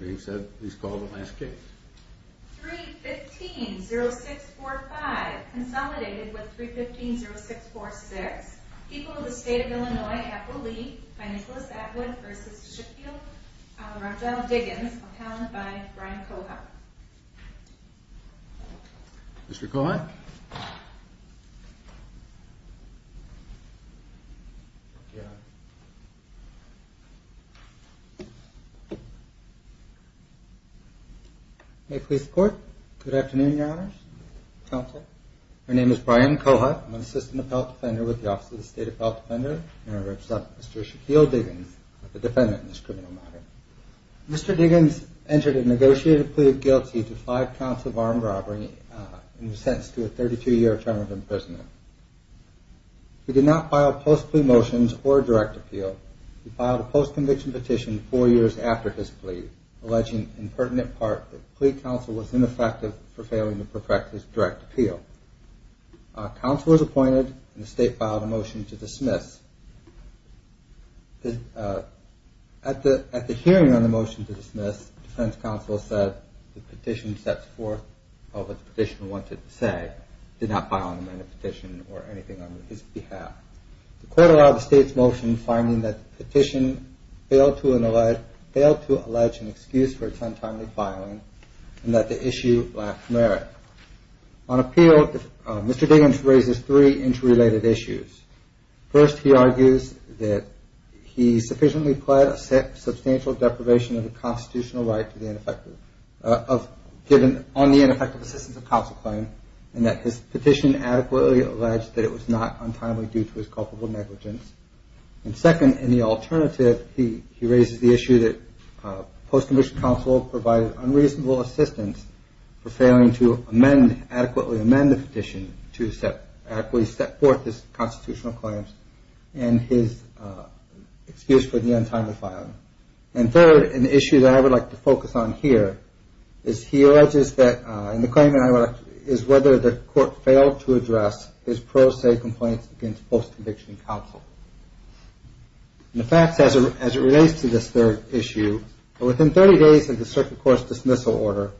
being said, he's called the last case. 3 15 0645. Consolidated with 3 15 0646 people of the state of Illinois. Apple leaf by Nicholas Atwood versus May it please the court. Good afternoon, your honors, counsel. My name is Brian Kohut. I'm an assistant of health defender with the Office of the State of Health Defender and I represent Mr. Shaquille Diggins, the defendant in this criminal matter. Mr. Diggins entered a negotiated plea of guilty to five counts of armed robbery and was sentenced to a 32-year term of imprisonment. He did not file post-plea motions or direct appeal. He filed a post-conviction petition four years after his plea, alleging in pertinent part that plea counsel was ineffective for failing to perfect his direct appeal. Counsel was appointed and the state filed a motion to dismiss. At the hearing on the motion to dismiss, defense counsel said the petition sets forth what the petitioner wanted to say. He did not file a petition or anything on his behalf. The court allowed the state's motion, finding that the petition failed to allege an excuse for its untimely filing and that the issue lacked merit. On appeal, Mr. Diggins raises three interrelated issues. First, he argues that he sufficiently pled a substantial deprivation of the constitutional right given on the ineffective assistance of counsel claim and that his petition adequately alleged that it was not untimely due to his culpable negligence. And second, in the alternative, he raises the issue that post-conviction counsel provided unreasonable assistance for failing to amend, adequately amend the petition to adequately set forth his constitutional claims and his excuse for the untimely filing. And third, an issue that I would like to focus on here, is he alleges that, and the claim that I would like to, is whether the court failed to address his pro se complaints against post-conviction counsel. And the facts as it relates to this third issue, within 30 days of the circuit court's dismissal order,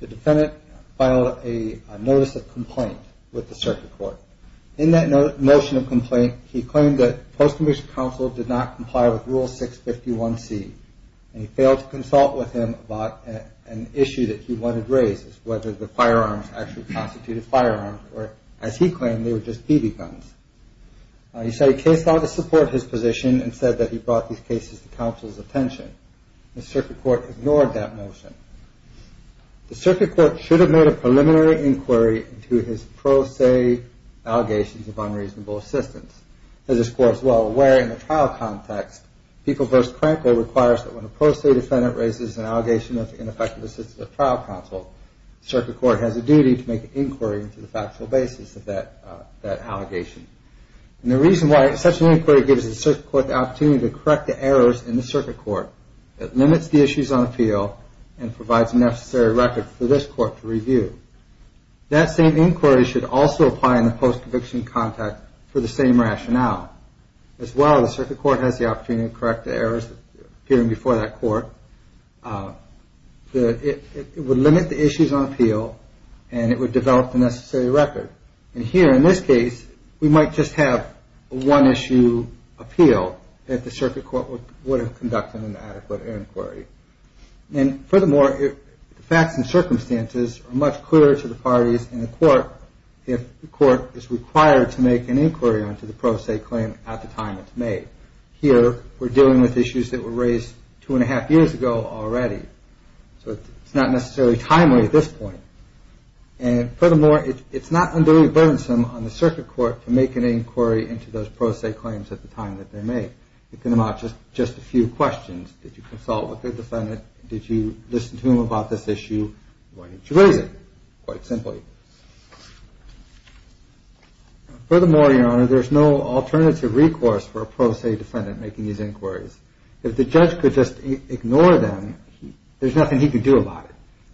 the defendant filed a notice of complaint with the circuit court. In that motion of complaint, he claimed that post-conviction counsel did not comply with Rule 651C and he failed to consult with him about an issue that he wanted raised, whether the firearms actually constituted firearms or, as he claimed, they were just BB guns. He said he case-filed to support his position and said that he brought these cases to counsel's attention. The circuit court ignored that motion. The circuit court should have made a preliminary inquiry into his pro se allegations of unreasonable assistance. As this court is well aware in the trial context, People v. Cranko requires that when a pro se defendant raises an allegation of ineffective assistance of trial counsel, the circuit court has a duty to make an inquiry into the factual basis of that allegation. And the reason why such an inquiry gives the circuit court the opportunity to correct the errors in the circuit court, it limits the issues on appeal and provides a necessary record for this court to review. That same inquiry should also apply in the post-conviction context for the same rationale. As well, the circuit court has the opportunity to correct the errors appearing before that court. It would limit the issues on appeal and it would develop the necessary record. And here, in this case, we might just have one issue, appeal, that the circuit court would have conducted an adequate inquiry. And furthermore, the facts and circumstances are much clearer to the parties in the court if the court is required to make an inquiry into the pro se claim at the time it's made. Here, we're dealing with issues that were raised two and a half years ago already, so it's not necessarily timely at this point. And furthermore, it's not unduly burdensome on the circuit court to make an inquiry into those pro se claims at the time that they're made. It can amount to just a few questions. Did you consult with the defendant? Did you listen to him about this issue? Why didn't you raise it? Quite simply. Furthermore, Your Honor, there's no alternative recourse for a pro se defendant making these inquiries. If the judge could just ignore them, there's nothing he could do about it.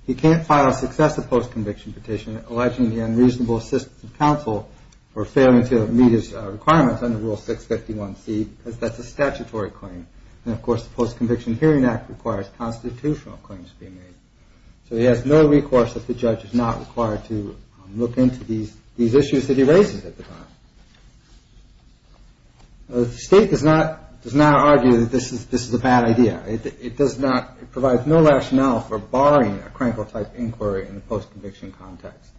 He can't file a successive post-conviction petition alleging the unreasonable assistance of counsel for failing to meet his requirements under Rule 651C, because that's a statutory claim. And, of course, the Post-Conviction Hearing Act requires constitutional claims to be made. So he has no recourse if the judge is not required to look into these issues that he raises at the time. The State does not argue that this is a bad idea. It does not. It provides no rationale for barring a crankle-type inquiry in the post-conviction context.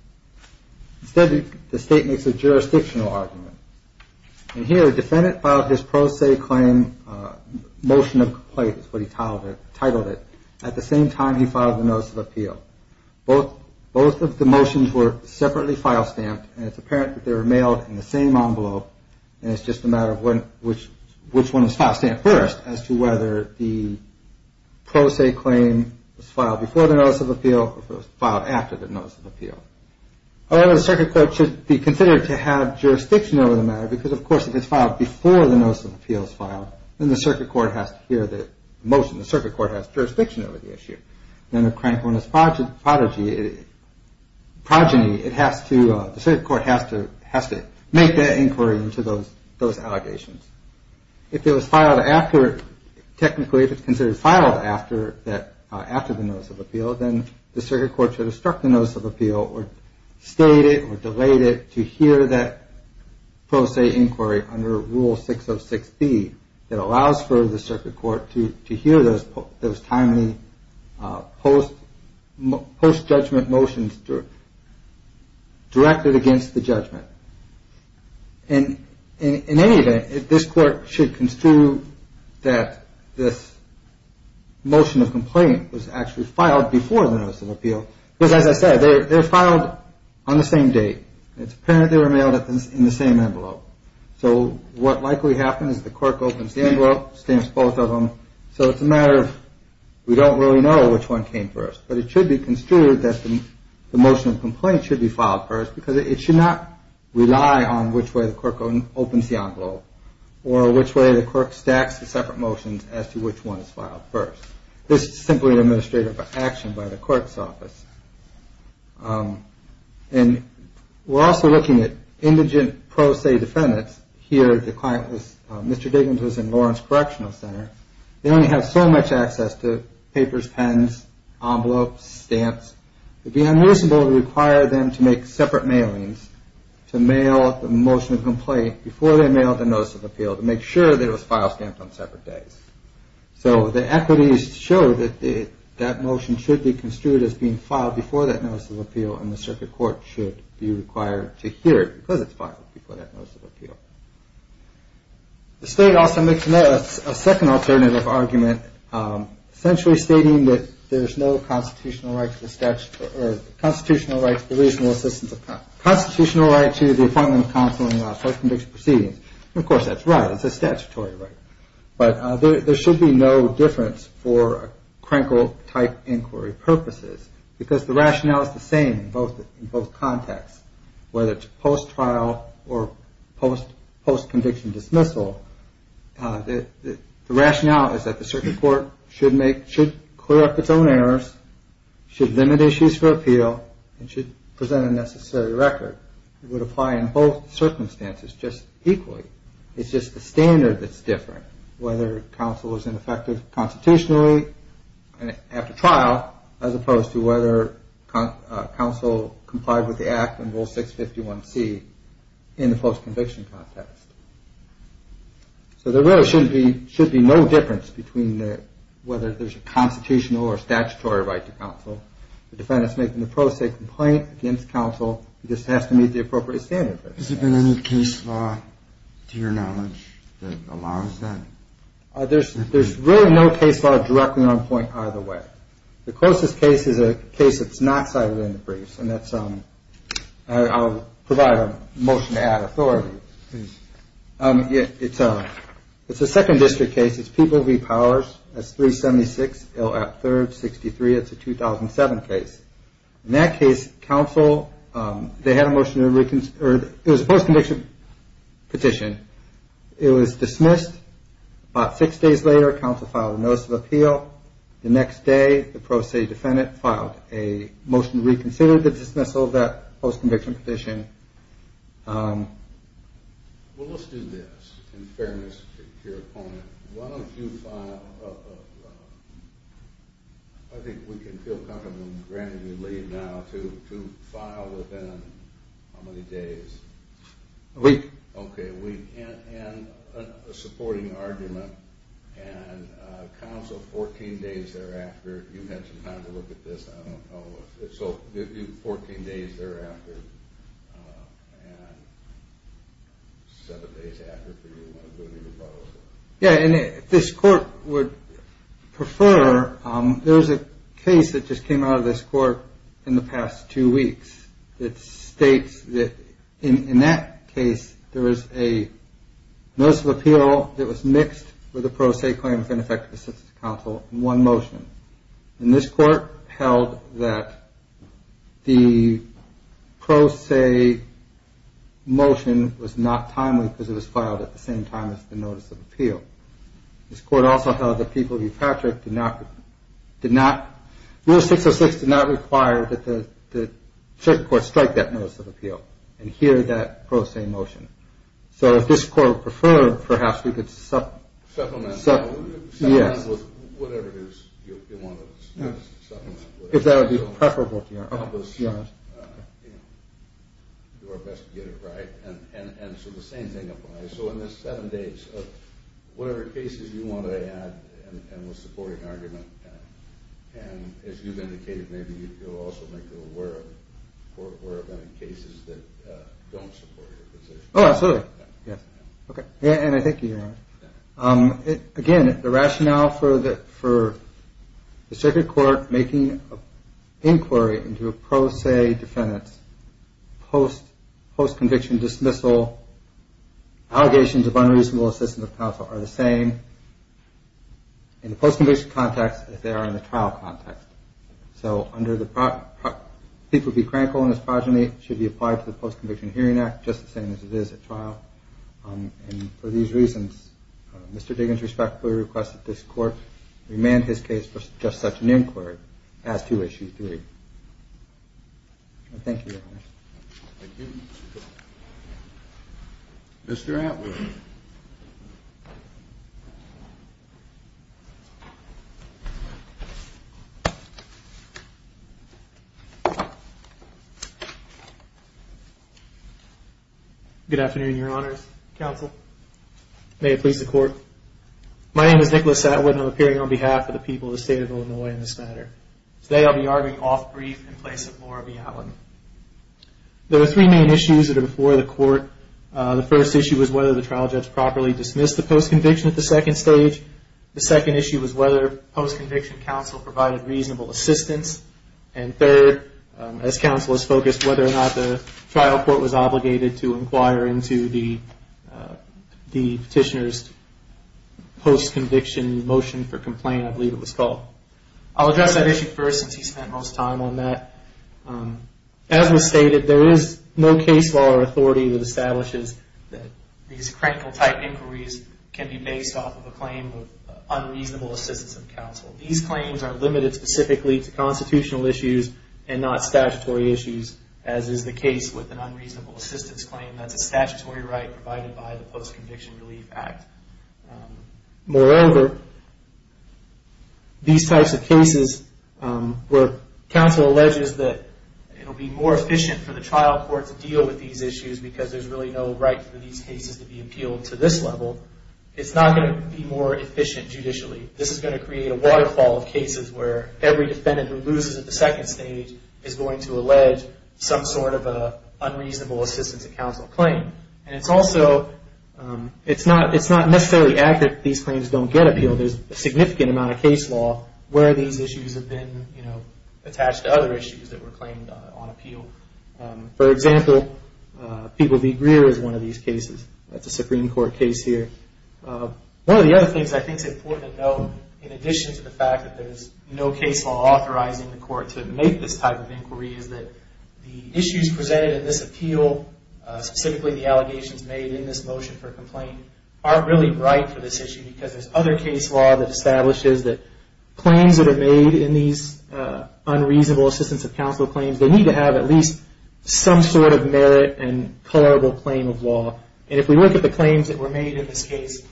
Instead, the State makes a jurisdictional argument. And here, the defendant filed his pro se claim motion of complaint is what he titled it. At the same time, he filed a notice of appeal. Both of the motions were separately file stamped, and it's apparent that they were mailed in the same envelope, and it's just a matter of which one is filed stamped first as to whether the pro se claim was filed before the notice of appeal or if it was filed after the notice of appeal. However, the circuit court should be considered to have jurisdiction over the matter, because, of course, if it's filed before the notice of appeal is filed, then the circuit court has to hear the motion. The circuit court has jurisdiction over the issue. Then the crankliness prodigy, progeny, the circuit court has to make that inquiry into those allegations. If it was filed after, technically if it's considered filed after the notice of appeal, then the circuit court should have struck the notice of appeal or stayed it or delayed it to hear that pro se inquiry under Rule 606B that allows for the circuit court to hear those timely post-judgment motions directed against the judgment. In any event, this court should construe that this motion of complaint was actually filed before the notice of appeal, because, as I said, they're filed on the same date. It's apparent they were mailed in the same envelope. So what likely happens is the clerk opens the envelope, stamps both of them, so it's a matter of we don't really know which one came first. But it should be construed that the motion of complaint should be filed first, because it should not rely on which way the clerk opens the envelope or which way the clerk stacks the separate motions as to which one is filed first. And we're also looking at indigent pro se defendants. Here the client was, Mr. Diggins was in Lawrence Correctional Center. They only have so much access to papers, pens, envelopes, stamps. It would be unreasonable to require them to make separate mailings to mail the motion of complaint before they mailed the notice of appeal to make sure that it was file stamped on separate days. So the equities show that that motion should be construed as being filed before that notice of appeal, and the circuit court should be required to hear it because it's filed before that notice of appeal. The state also makes a second alternative argument, essentially stating that there's no constitutional right to the reasonable assistance of counsel. Constitutional right to the appointment of counsel in a self-convicted proceedings. Of course, that's right. It's a statutory right. But there should be no difference for Krenkel-type inquiry purposes because the rationale is the same in both contexts, whether it's post-trial or post-conviction dismissal. The rationale is that the circuit court should clear up its own errors, should limit issues for appeal, and should present a necessary record. It would apply in both circumstances just equally. It's just the standard that's different, whether counsel is ineffective constitutionally after trial, as opposed to whether counsel complied with the Act and Rule 651C in the post-conviction context. So there really should be no difference between whether there's a constitutional or statutory right to counsel. The defendant's making the pro se complaint against counsel. It just has to meet the appropriate standard. Has there been any case law, to your knowledge, that allows that? There's really no case law directly on point either way. The closest case is a case that's not cited in the briefs, and that's – I'll provide a motion to add authority. Please. It's a second district case. It's Peoples v. Powers. That's 376 L. App. 3rd, 63. It's a 2007 case. In that case, counsel – they had a motion to – it was a post-conviction petition. It was dismissed. About six days later, counsel filed a notice of appeal. The next day, the pro se defendant filed a motion to reconsider the dismissal of that post-conviction petition. Well, let's do this. In fairness to your opponent, why don't you file – I think we can feel comfortable, granted you leave now, to file within how many days? A week. Okay, a week. And a supporting argument. And counsel, 14 days thereafter – you had some time to look at this. So do 14 days thereafter and seven days after for you when you're doing your proposal. Yeah, and if this court would prefer, there's a case that just came out of this court in the past two weeks that states that – in that case, there was a notice of appeal that was mixed with a pro se claim of ineffective assistance to counsel in one motion. And this court held that the pro se motion was not timely because it was filed at the same time as the notice of appeal. This court also held that the people of New Patrick did not – Rule 606 did not require that the circuit court strike that notice of appeal and hear that pro se motion. So if this court would prefer, perhaps we could – Supplement. Yes. Whatever it is you want to supplement. If that would be preferable to your – You know, do our best to get it right. And so the same thing applies. So in this seven days, whatever cases you want to add and with supporting argument, and as you've indicated, maybe you'll also make it aware of cases that don't support your position. Oh, absolutely. Yes. Okay. Yeah, and I think you're right. Again, the rationale for the circuit court making an inquiry into a pro se defendant post-conviction dismissal, allegations of unreasonable assistance of counsel are the same in the post-conviction context as they are in the trial context. So under the – people be crankle in this progeny should be applied to the post-conviction hearing act just the same as it is at trial. And for these reasons, Mr. Diggins respectfully requests that this court remand his case for just such an inquiry as to issue three. Thank you, Your Honor. Thank you. Mr. Atwood. Thank you. Good afternoon, Your Honors, counsel. May it please the court. My name is Nicholas Atwood and I'm appearing on behalf of the people of the state of Illinois in this matter. Today I'll be arguing off-brief in place of Laura B. Allen. There are three main issues that are before the court. The first issue is whether the trial judge properly dismissed the post-conviction at the second stage. The second issue is whether post-conviction counsel provided reasonable assistance. And third, as counsel has focused whether or not the trial court was obligated to inquire into the petitioner's post-conviction motion for complaint, I believe it was called. I'll address that issue first since he spent most time on that. As was stated, there is no case law or authority that establishes that these crankle-type inquiries can be based off of a claim of unreasonable assistance of counsel. These claims are limited specifically to constitutional issues and not statutory issues, as is the case with an unreasonable assistance claim. That's a statutory right provided by the Post-Conviction Relief Act. Moreover, these types of cases where counsel alleges that it will be more efficient for the trial court to deal with these issues because there's really no right for these cases to be appealed to this level, it's not going to be more efficient judicially. This is going to create a waterfall of cases where every defendant who loses at the second stage is going to allege some sort of an unreasonable assistance of counsel claim. It's also not necessarily accurate that these claims don't get appealed. There's a significant amount of case law where these issues have been attached to other issues that were claimed on appeal. For example, People v. Greer is one of these cases. That's a Supreme Court case here. One of the other things I think is important to note, in addition to the fact that there's no case law authorizing the court to make this type of inquiry, is that the issues presented in this appeal, specifically the allegations made in this motion for complaint, aren't really right for this issue because there's other case law that establishes that claims that are made in these unreasonable assistance of counsel claims, they need to have at least some sort of merit and colorable claim of law. If we look at the claims that were made in this case,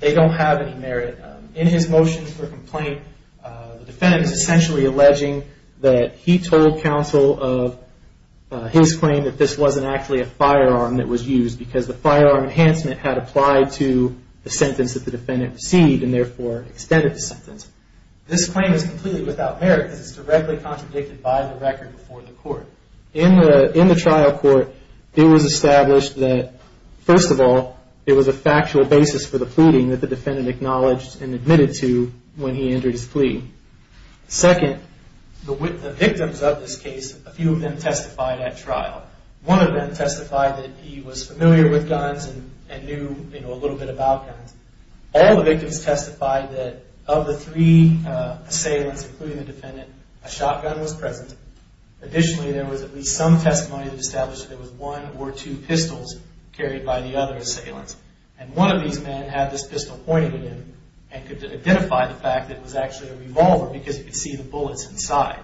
they don't have any merit. In his motion for complaint, the defendant is essentially alleging that he told counsel of his claim that this wasn't actually a firearm that was used because the firearm enhancement had applied to the sentence that the defendant received and therefore extended the sentence. This claim is completely without merit because it's directly contradicted by the record before the court. In the trial court, it was established that, first of all, it was a factual basis for the pleading that the defendant acknowledged and admitted to when he entered his plea. Second, the victims of this case, a few of them testified at trial. One of them testified that he was familiar with guns and knew a little bit about guns. All the victims testified that of the three assailants, including the defendant, a shotgun was present. Additionally, there was at least some testimony that established that there was one or two pistols carried by the other assailants. And one of these men had this pistol pointed at him and could identify the fact that it was actually a revolver because he could see the bullets inside.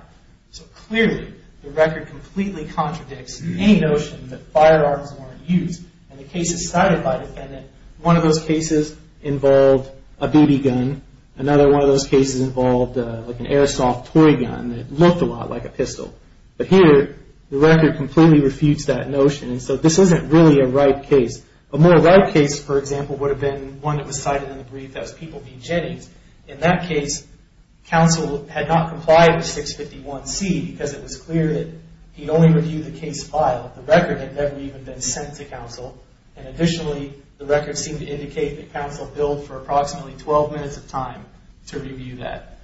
So clearly, the record completely contradicts any notion that firearms weren't used. In the cases cited by the defendant, one of those cases involved a BB gun. Another one of those cases involved like an airsoft toy gun that looked a lot like a pistol. But here, the record completely refutes that notion. And so this isn't really a right case. A more right case, for example, would have been one that was cited in the brief that was People v. Jennings. In that case, counsel had not complied with 651C because it was clear that he'd only reviewed the case file. The record had never even been sent to counsel. And additionally, the record seemed to indicate that counsel billed for approximately 12 minutes of time to review that.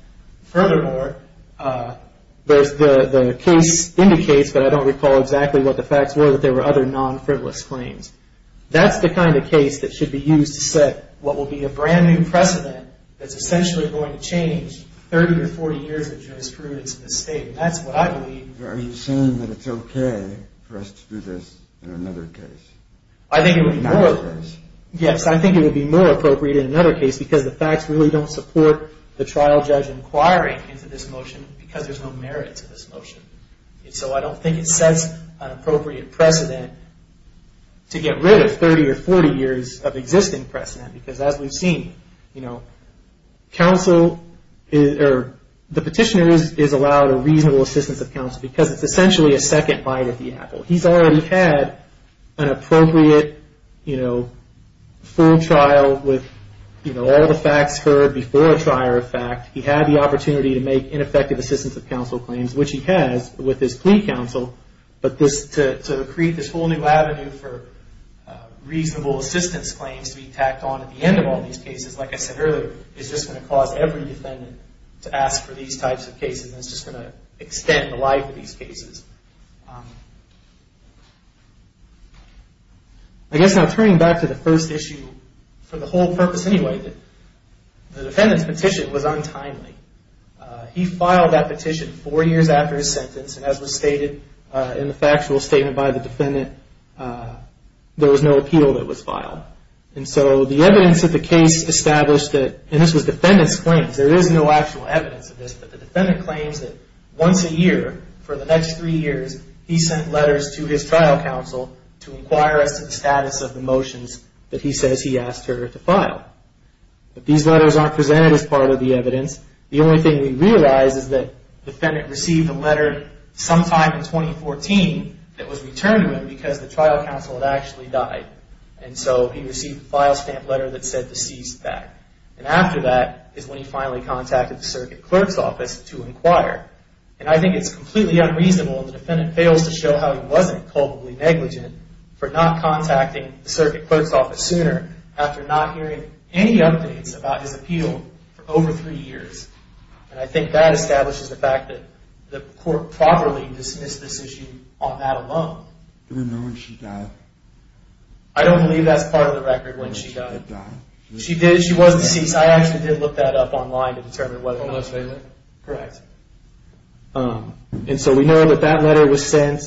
Furthermore, the case indicates, but I don't recall exactly what the facts were, that there were other non-frivolous claims. That's the kind of case that should be used to set what will be a brand-new precedent that's essentially going to change 30 or 40 years of jurisprudence in this state. And that's what I believe. Are you saying that it's okay for us to do this in another case? Yes, I think it would be more appropriate in another case because the facts really don't support the trial judge inquiring into this motion because there's no merit to this motion. And so I don't think it sets an appropriate precedent to get rid of 30 or 40 years of existing precedent. Because as we've seen, the petitioner is allowed a reasonable assistance of counsel because it's essentially a second bite at the apple. He's already had an appropriate full trial with all the facts heard before a trial of fact. He had the opportunity to make ineffective assistance of counsel claims, which he has with his plea counsel. But to create this whole new avenue for reasonable assistance claims to be tacked on at the end of all these cases, like I said earlier, is just going to cause every defendant to ask for these types of cases. And it's just going to extend the life of these cases. I guess now turning back to the first issue, for the whole purpose anyway, the defendant's petition was untimely. He filed that petition four years after his sentence, and as was stated in the factual statement by the defendant, there was no appeal that was filed. And so the evidence of the case established that, and this was defendant's claims, there is no actual evidence of this, but the defendant claims that once a year, for the next three years, he sent letters to his trial counsel to inquire as to the status of the motions that he says he asked her to file. But these letters aren't presented as part of the evidence. The only thing we realize is that the defendant received a letter sometime in 2014 that was returned to him because the trial counsel had actually died. And so he received a file stamp letter that said to cease that. And after that is when he finally contacted the circuit clerk's office to inquire. And I think it's completely unreasonable if the defendant fails to show how he wasn't culpably negligent for not contacting the circuit clerk's office sooner after not hearing any updates about his appeal for over three years. And I think that establishes the fact that the court properly dismissed this issue on that alone. Do we know when she died? I don't believe that's part of the record, when she died. She did, she was deceased. I actually did look that up online to determine whether or not. Correct. And so we know that that letter was sent,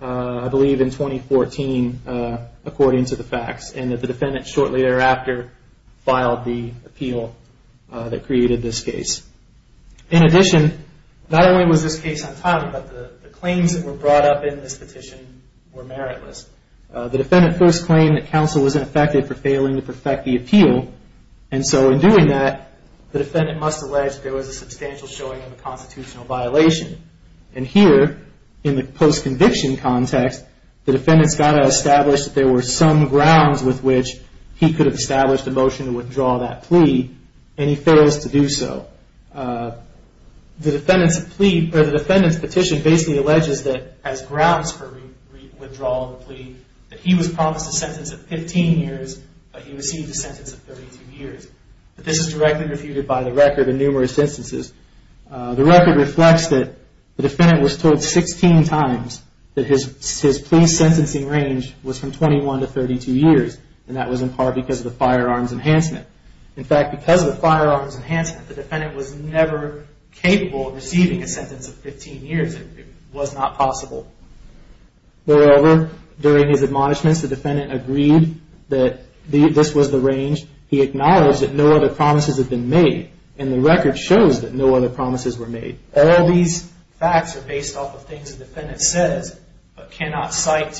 I believe in 2014, according to the facts. And that the defendant shortly thereafter filed the appeal that created this case. In addition, not only was this case untimely, but the claims that were brought up in this petition were meritless. The defendant first claimed that counsel wasn't affected for failing to perfect the appeal. And so in doing that, the defendant must allege there was a substantial showing of a constitutional violation. And here, in the post-conviction context, the defendant's got to establish that there were some grounds with which he could have established a motion to withdraw that plea. And he fails to do so. The defendant's petition basically alleges that as grounds for withdrawal of the plea, that he was promised a sentence of 15 years, but he received a sentence of 32 years. This is directly refuted by the record in numerous instances. The record reflects that the defendant was told 16 times that his plea sentencing range was from 21 to 32 years. And that was in part because of the firearms enhancement. In fact, because of the firearms enhancement, the defendant was never capable of receiving a sentence of 15 years. It was not possible. However, during his admonishments, the defendant agreed that this was the range. He acknowledged that no other promises had been made. And the record shows that no other promises were made. All these facts are based off of things the defendant says, but cannot cite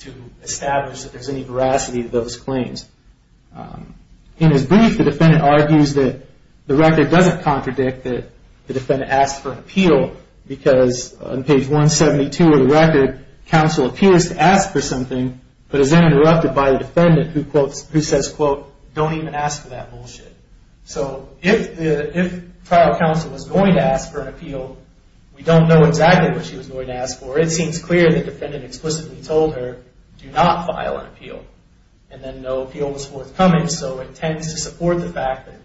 to establish that there's any veracity to those claims. In his brief, the defendant argues that the record doesn't contradict that the defendant asked for an appeal, because on page 172 of the record, counsel appears to ask for something, but is then interrupted by the defendant, who says, quote, don't even ask for that bullshit. So if trial counsel was going to ask for an appeal, we don't know exactly what she was going to ask for. It seems clear that the defendant explicitly told her, do not file an appeal. And then no appeal was forthcoming, so it tends to support the fact that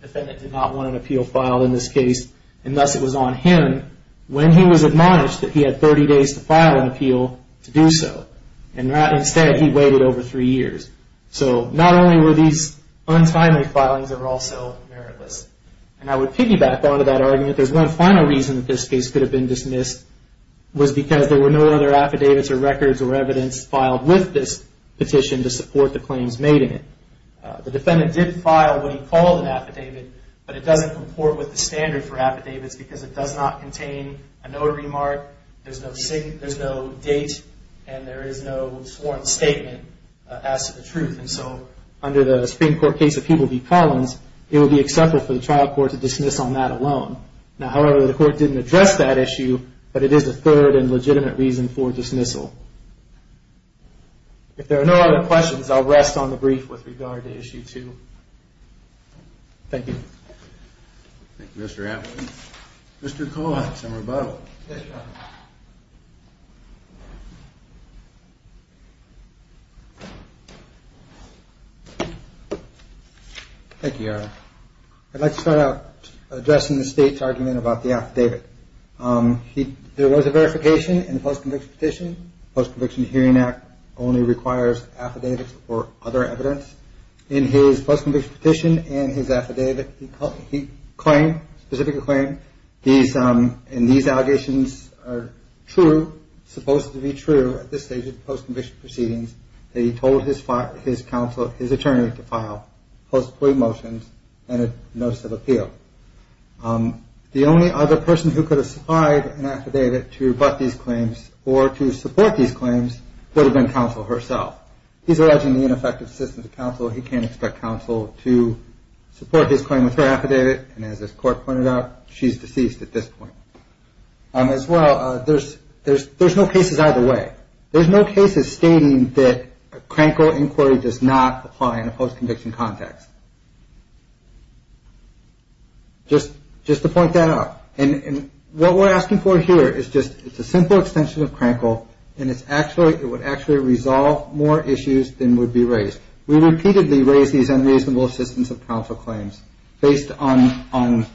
the defendant did not want an appeal filed in this case. And thus, it was on him, when he was admonished, that he had 30 days to file an appeal to do so. And instead, he waited over three years. So not only were these untimely filings, they were also meritless. And I would piggyback onto that argument, there's one final reason that this case could have been dismissed, was because there were no other affidavits or records or evidence filed with this petition to support the claims made in it. The defendant did file what he called an affidavit, but it doesn't comport with the standard for affidavits, because it does not contain a notary mark, there's no date, and there is no sworn statement as to the truth. And so under the Supreme Court case of Hubel v. Collins, it would be acceptable for the trial court to dismiss on that alone. Now, however, the court didn't address that issue, but it is the third and legitimate reason for dismissal. If there are no other questions, I'll rest on the brief with regard to issue two. Thank you. Thank you, Mr. Atwood. Mr. Collins, I'm rebuttal. Thank you, Your Honor. I'd like to start out addressing the State's argument about the affidavit. There was a verification in the post-conviction petition. The Post-Conviction Hearing Act only requires affidavits or other evidence. In his post-conviction petition and his affidavit, he claimed, specifically claimed, and these allegations are true, supposed to be true at this stage of the post-conviction proceedings, that he told his counsel, his attorney, to file post-plea motions and a notice of appeal. The only other person who could have supplied an affidavit to rebut these claims or to support these claims would have been counsel herself. He's alleging the ineffective assistance of counsel. He can't expect counsel to support his claim with her affidavit, and as this Court pointed out, she's deceased at this point. As well, there's no cases either way. There's no cases stating that crankle inquiry does not apply in a post-conviction context. Just to point that out. And what we're asking for here is just a simple extension of crankle, and it would actually resolve more issues than would be raised. We repeatedly raise these unreasonable assistance of counsel claims based on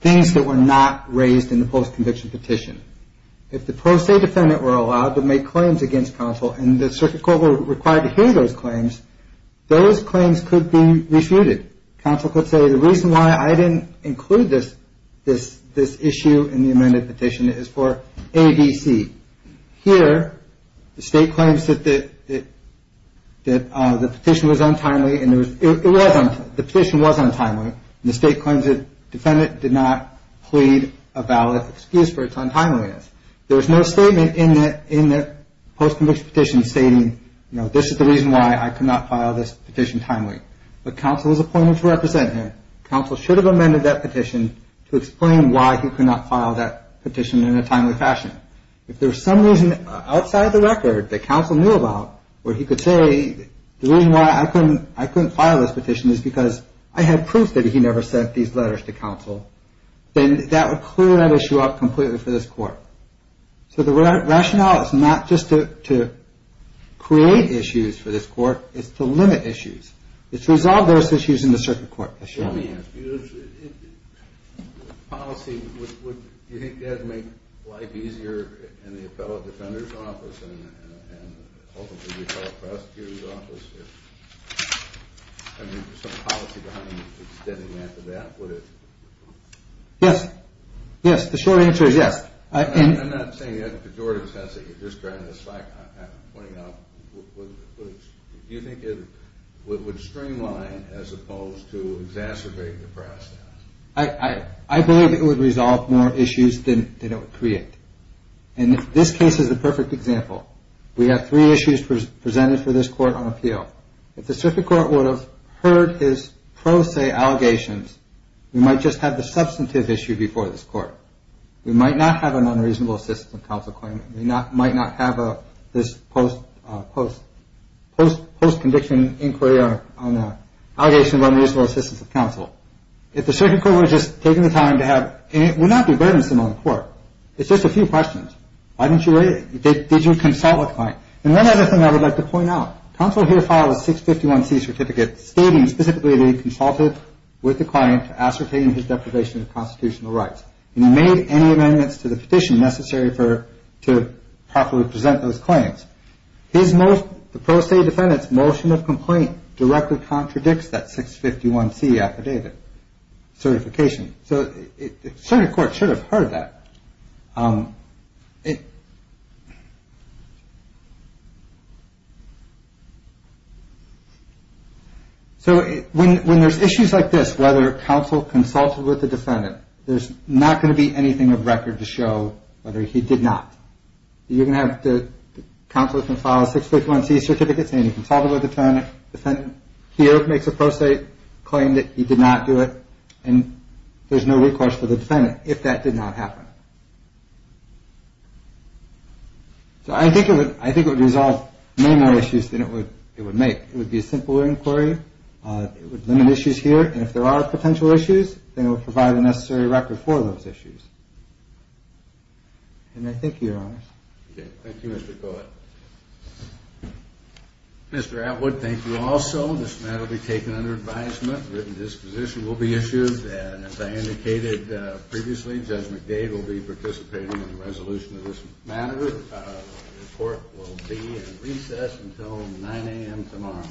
things that were not raised in the post-conviction petition. If the pro se defendant were allowed to make claims against counsel, and the circuit court were required to hear those claims, those claims could be refuted. Counsel could say the reason why I didn't include this issue in the amended petition is for ABC. Here, the state claims that the petition was untimely, and the state claims that the defendant did not plead a valid excuse for its untimeliness. There's no statement in the post-conviction petition stating, you know, this is the reason why I could not file this petition timely. But counsel was appointed to represent him. Counsel should have amended that petition to explain why he could not file that petition in a timely fashion. If there was some reason outside the record that counsel knew about where he could say, the reason why I couldn't file this petition is because I had proof that he never sent these letters to counsel, then that would clear that issue up completely for this court. So the rationale is not just to create issues for this court. It's to limit issues. It's to resolve those issues in the circuit court. Let me ask you this. Policy, do you think that would make life easier in the appellate defender's office and ultimately the appellate prosecutor's office? I mean, is there some policy behind extending that to that? Yes. Yes, the short answer is yes. I'm not saying that. Do you think it would streamline as opposed to exacerbate the process? I believe it would resolve more issues than it would create. And this case is a perfect example. We have three issues presented for this court on appeal. If the circuit court would have heard his pro se allegations, we might just have the substantive issue before this court. We might not have an unreasonable assistance of counsel claim. We might not have this post-conviction inquiry on allegations of unreasonable assistance of counsel. If the circuit court were just taking the time to have, and it would not be burdensome on the court. It's just a few questions. Why didn't you rate it? Did you consult with client? And one other thing I would like to point out. Counsel here filed a 651 C certificate stating specifically they consulted with the client to ascertain his deprivation of constitutional rights. He made any amendments to the petition necessary for to properly present those claims. His most pro se defendants motion of complaint directly contradicts that 651 C affidavit certification. Circuit court should have heard that. So when there's issues like this, whether counsel consulted with the defendant, there's not going to be anything of record to show whether he did not. You're going to have counsel file a 651 C certificate saying he consulted with the defendant. Here it makes a pro se claim that he did not do it. And there's no request for the defendant if that did not happen. So I think it would resolve many more issues than it would make. It would be a simple inquiry. It would limit issues here. And if there are potential issues, then it would provide the necessary record for those issues. And I thank you, Your Honor. Mr. Atwood, thank you also. This matter will be taken under advisement. Written disposition will be issued. And as I indicated previously, Judge McDade will be participating in the resolution of this matter. The court will be in recess until 9 a.m. tomorrow.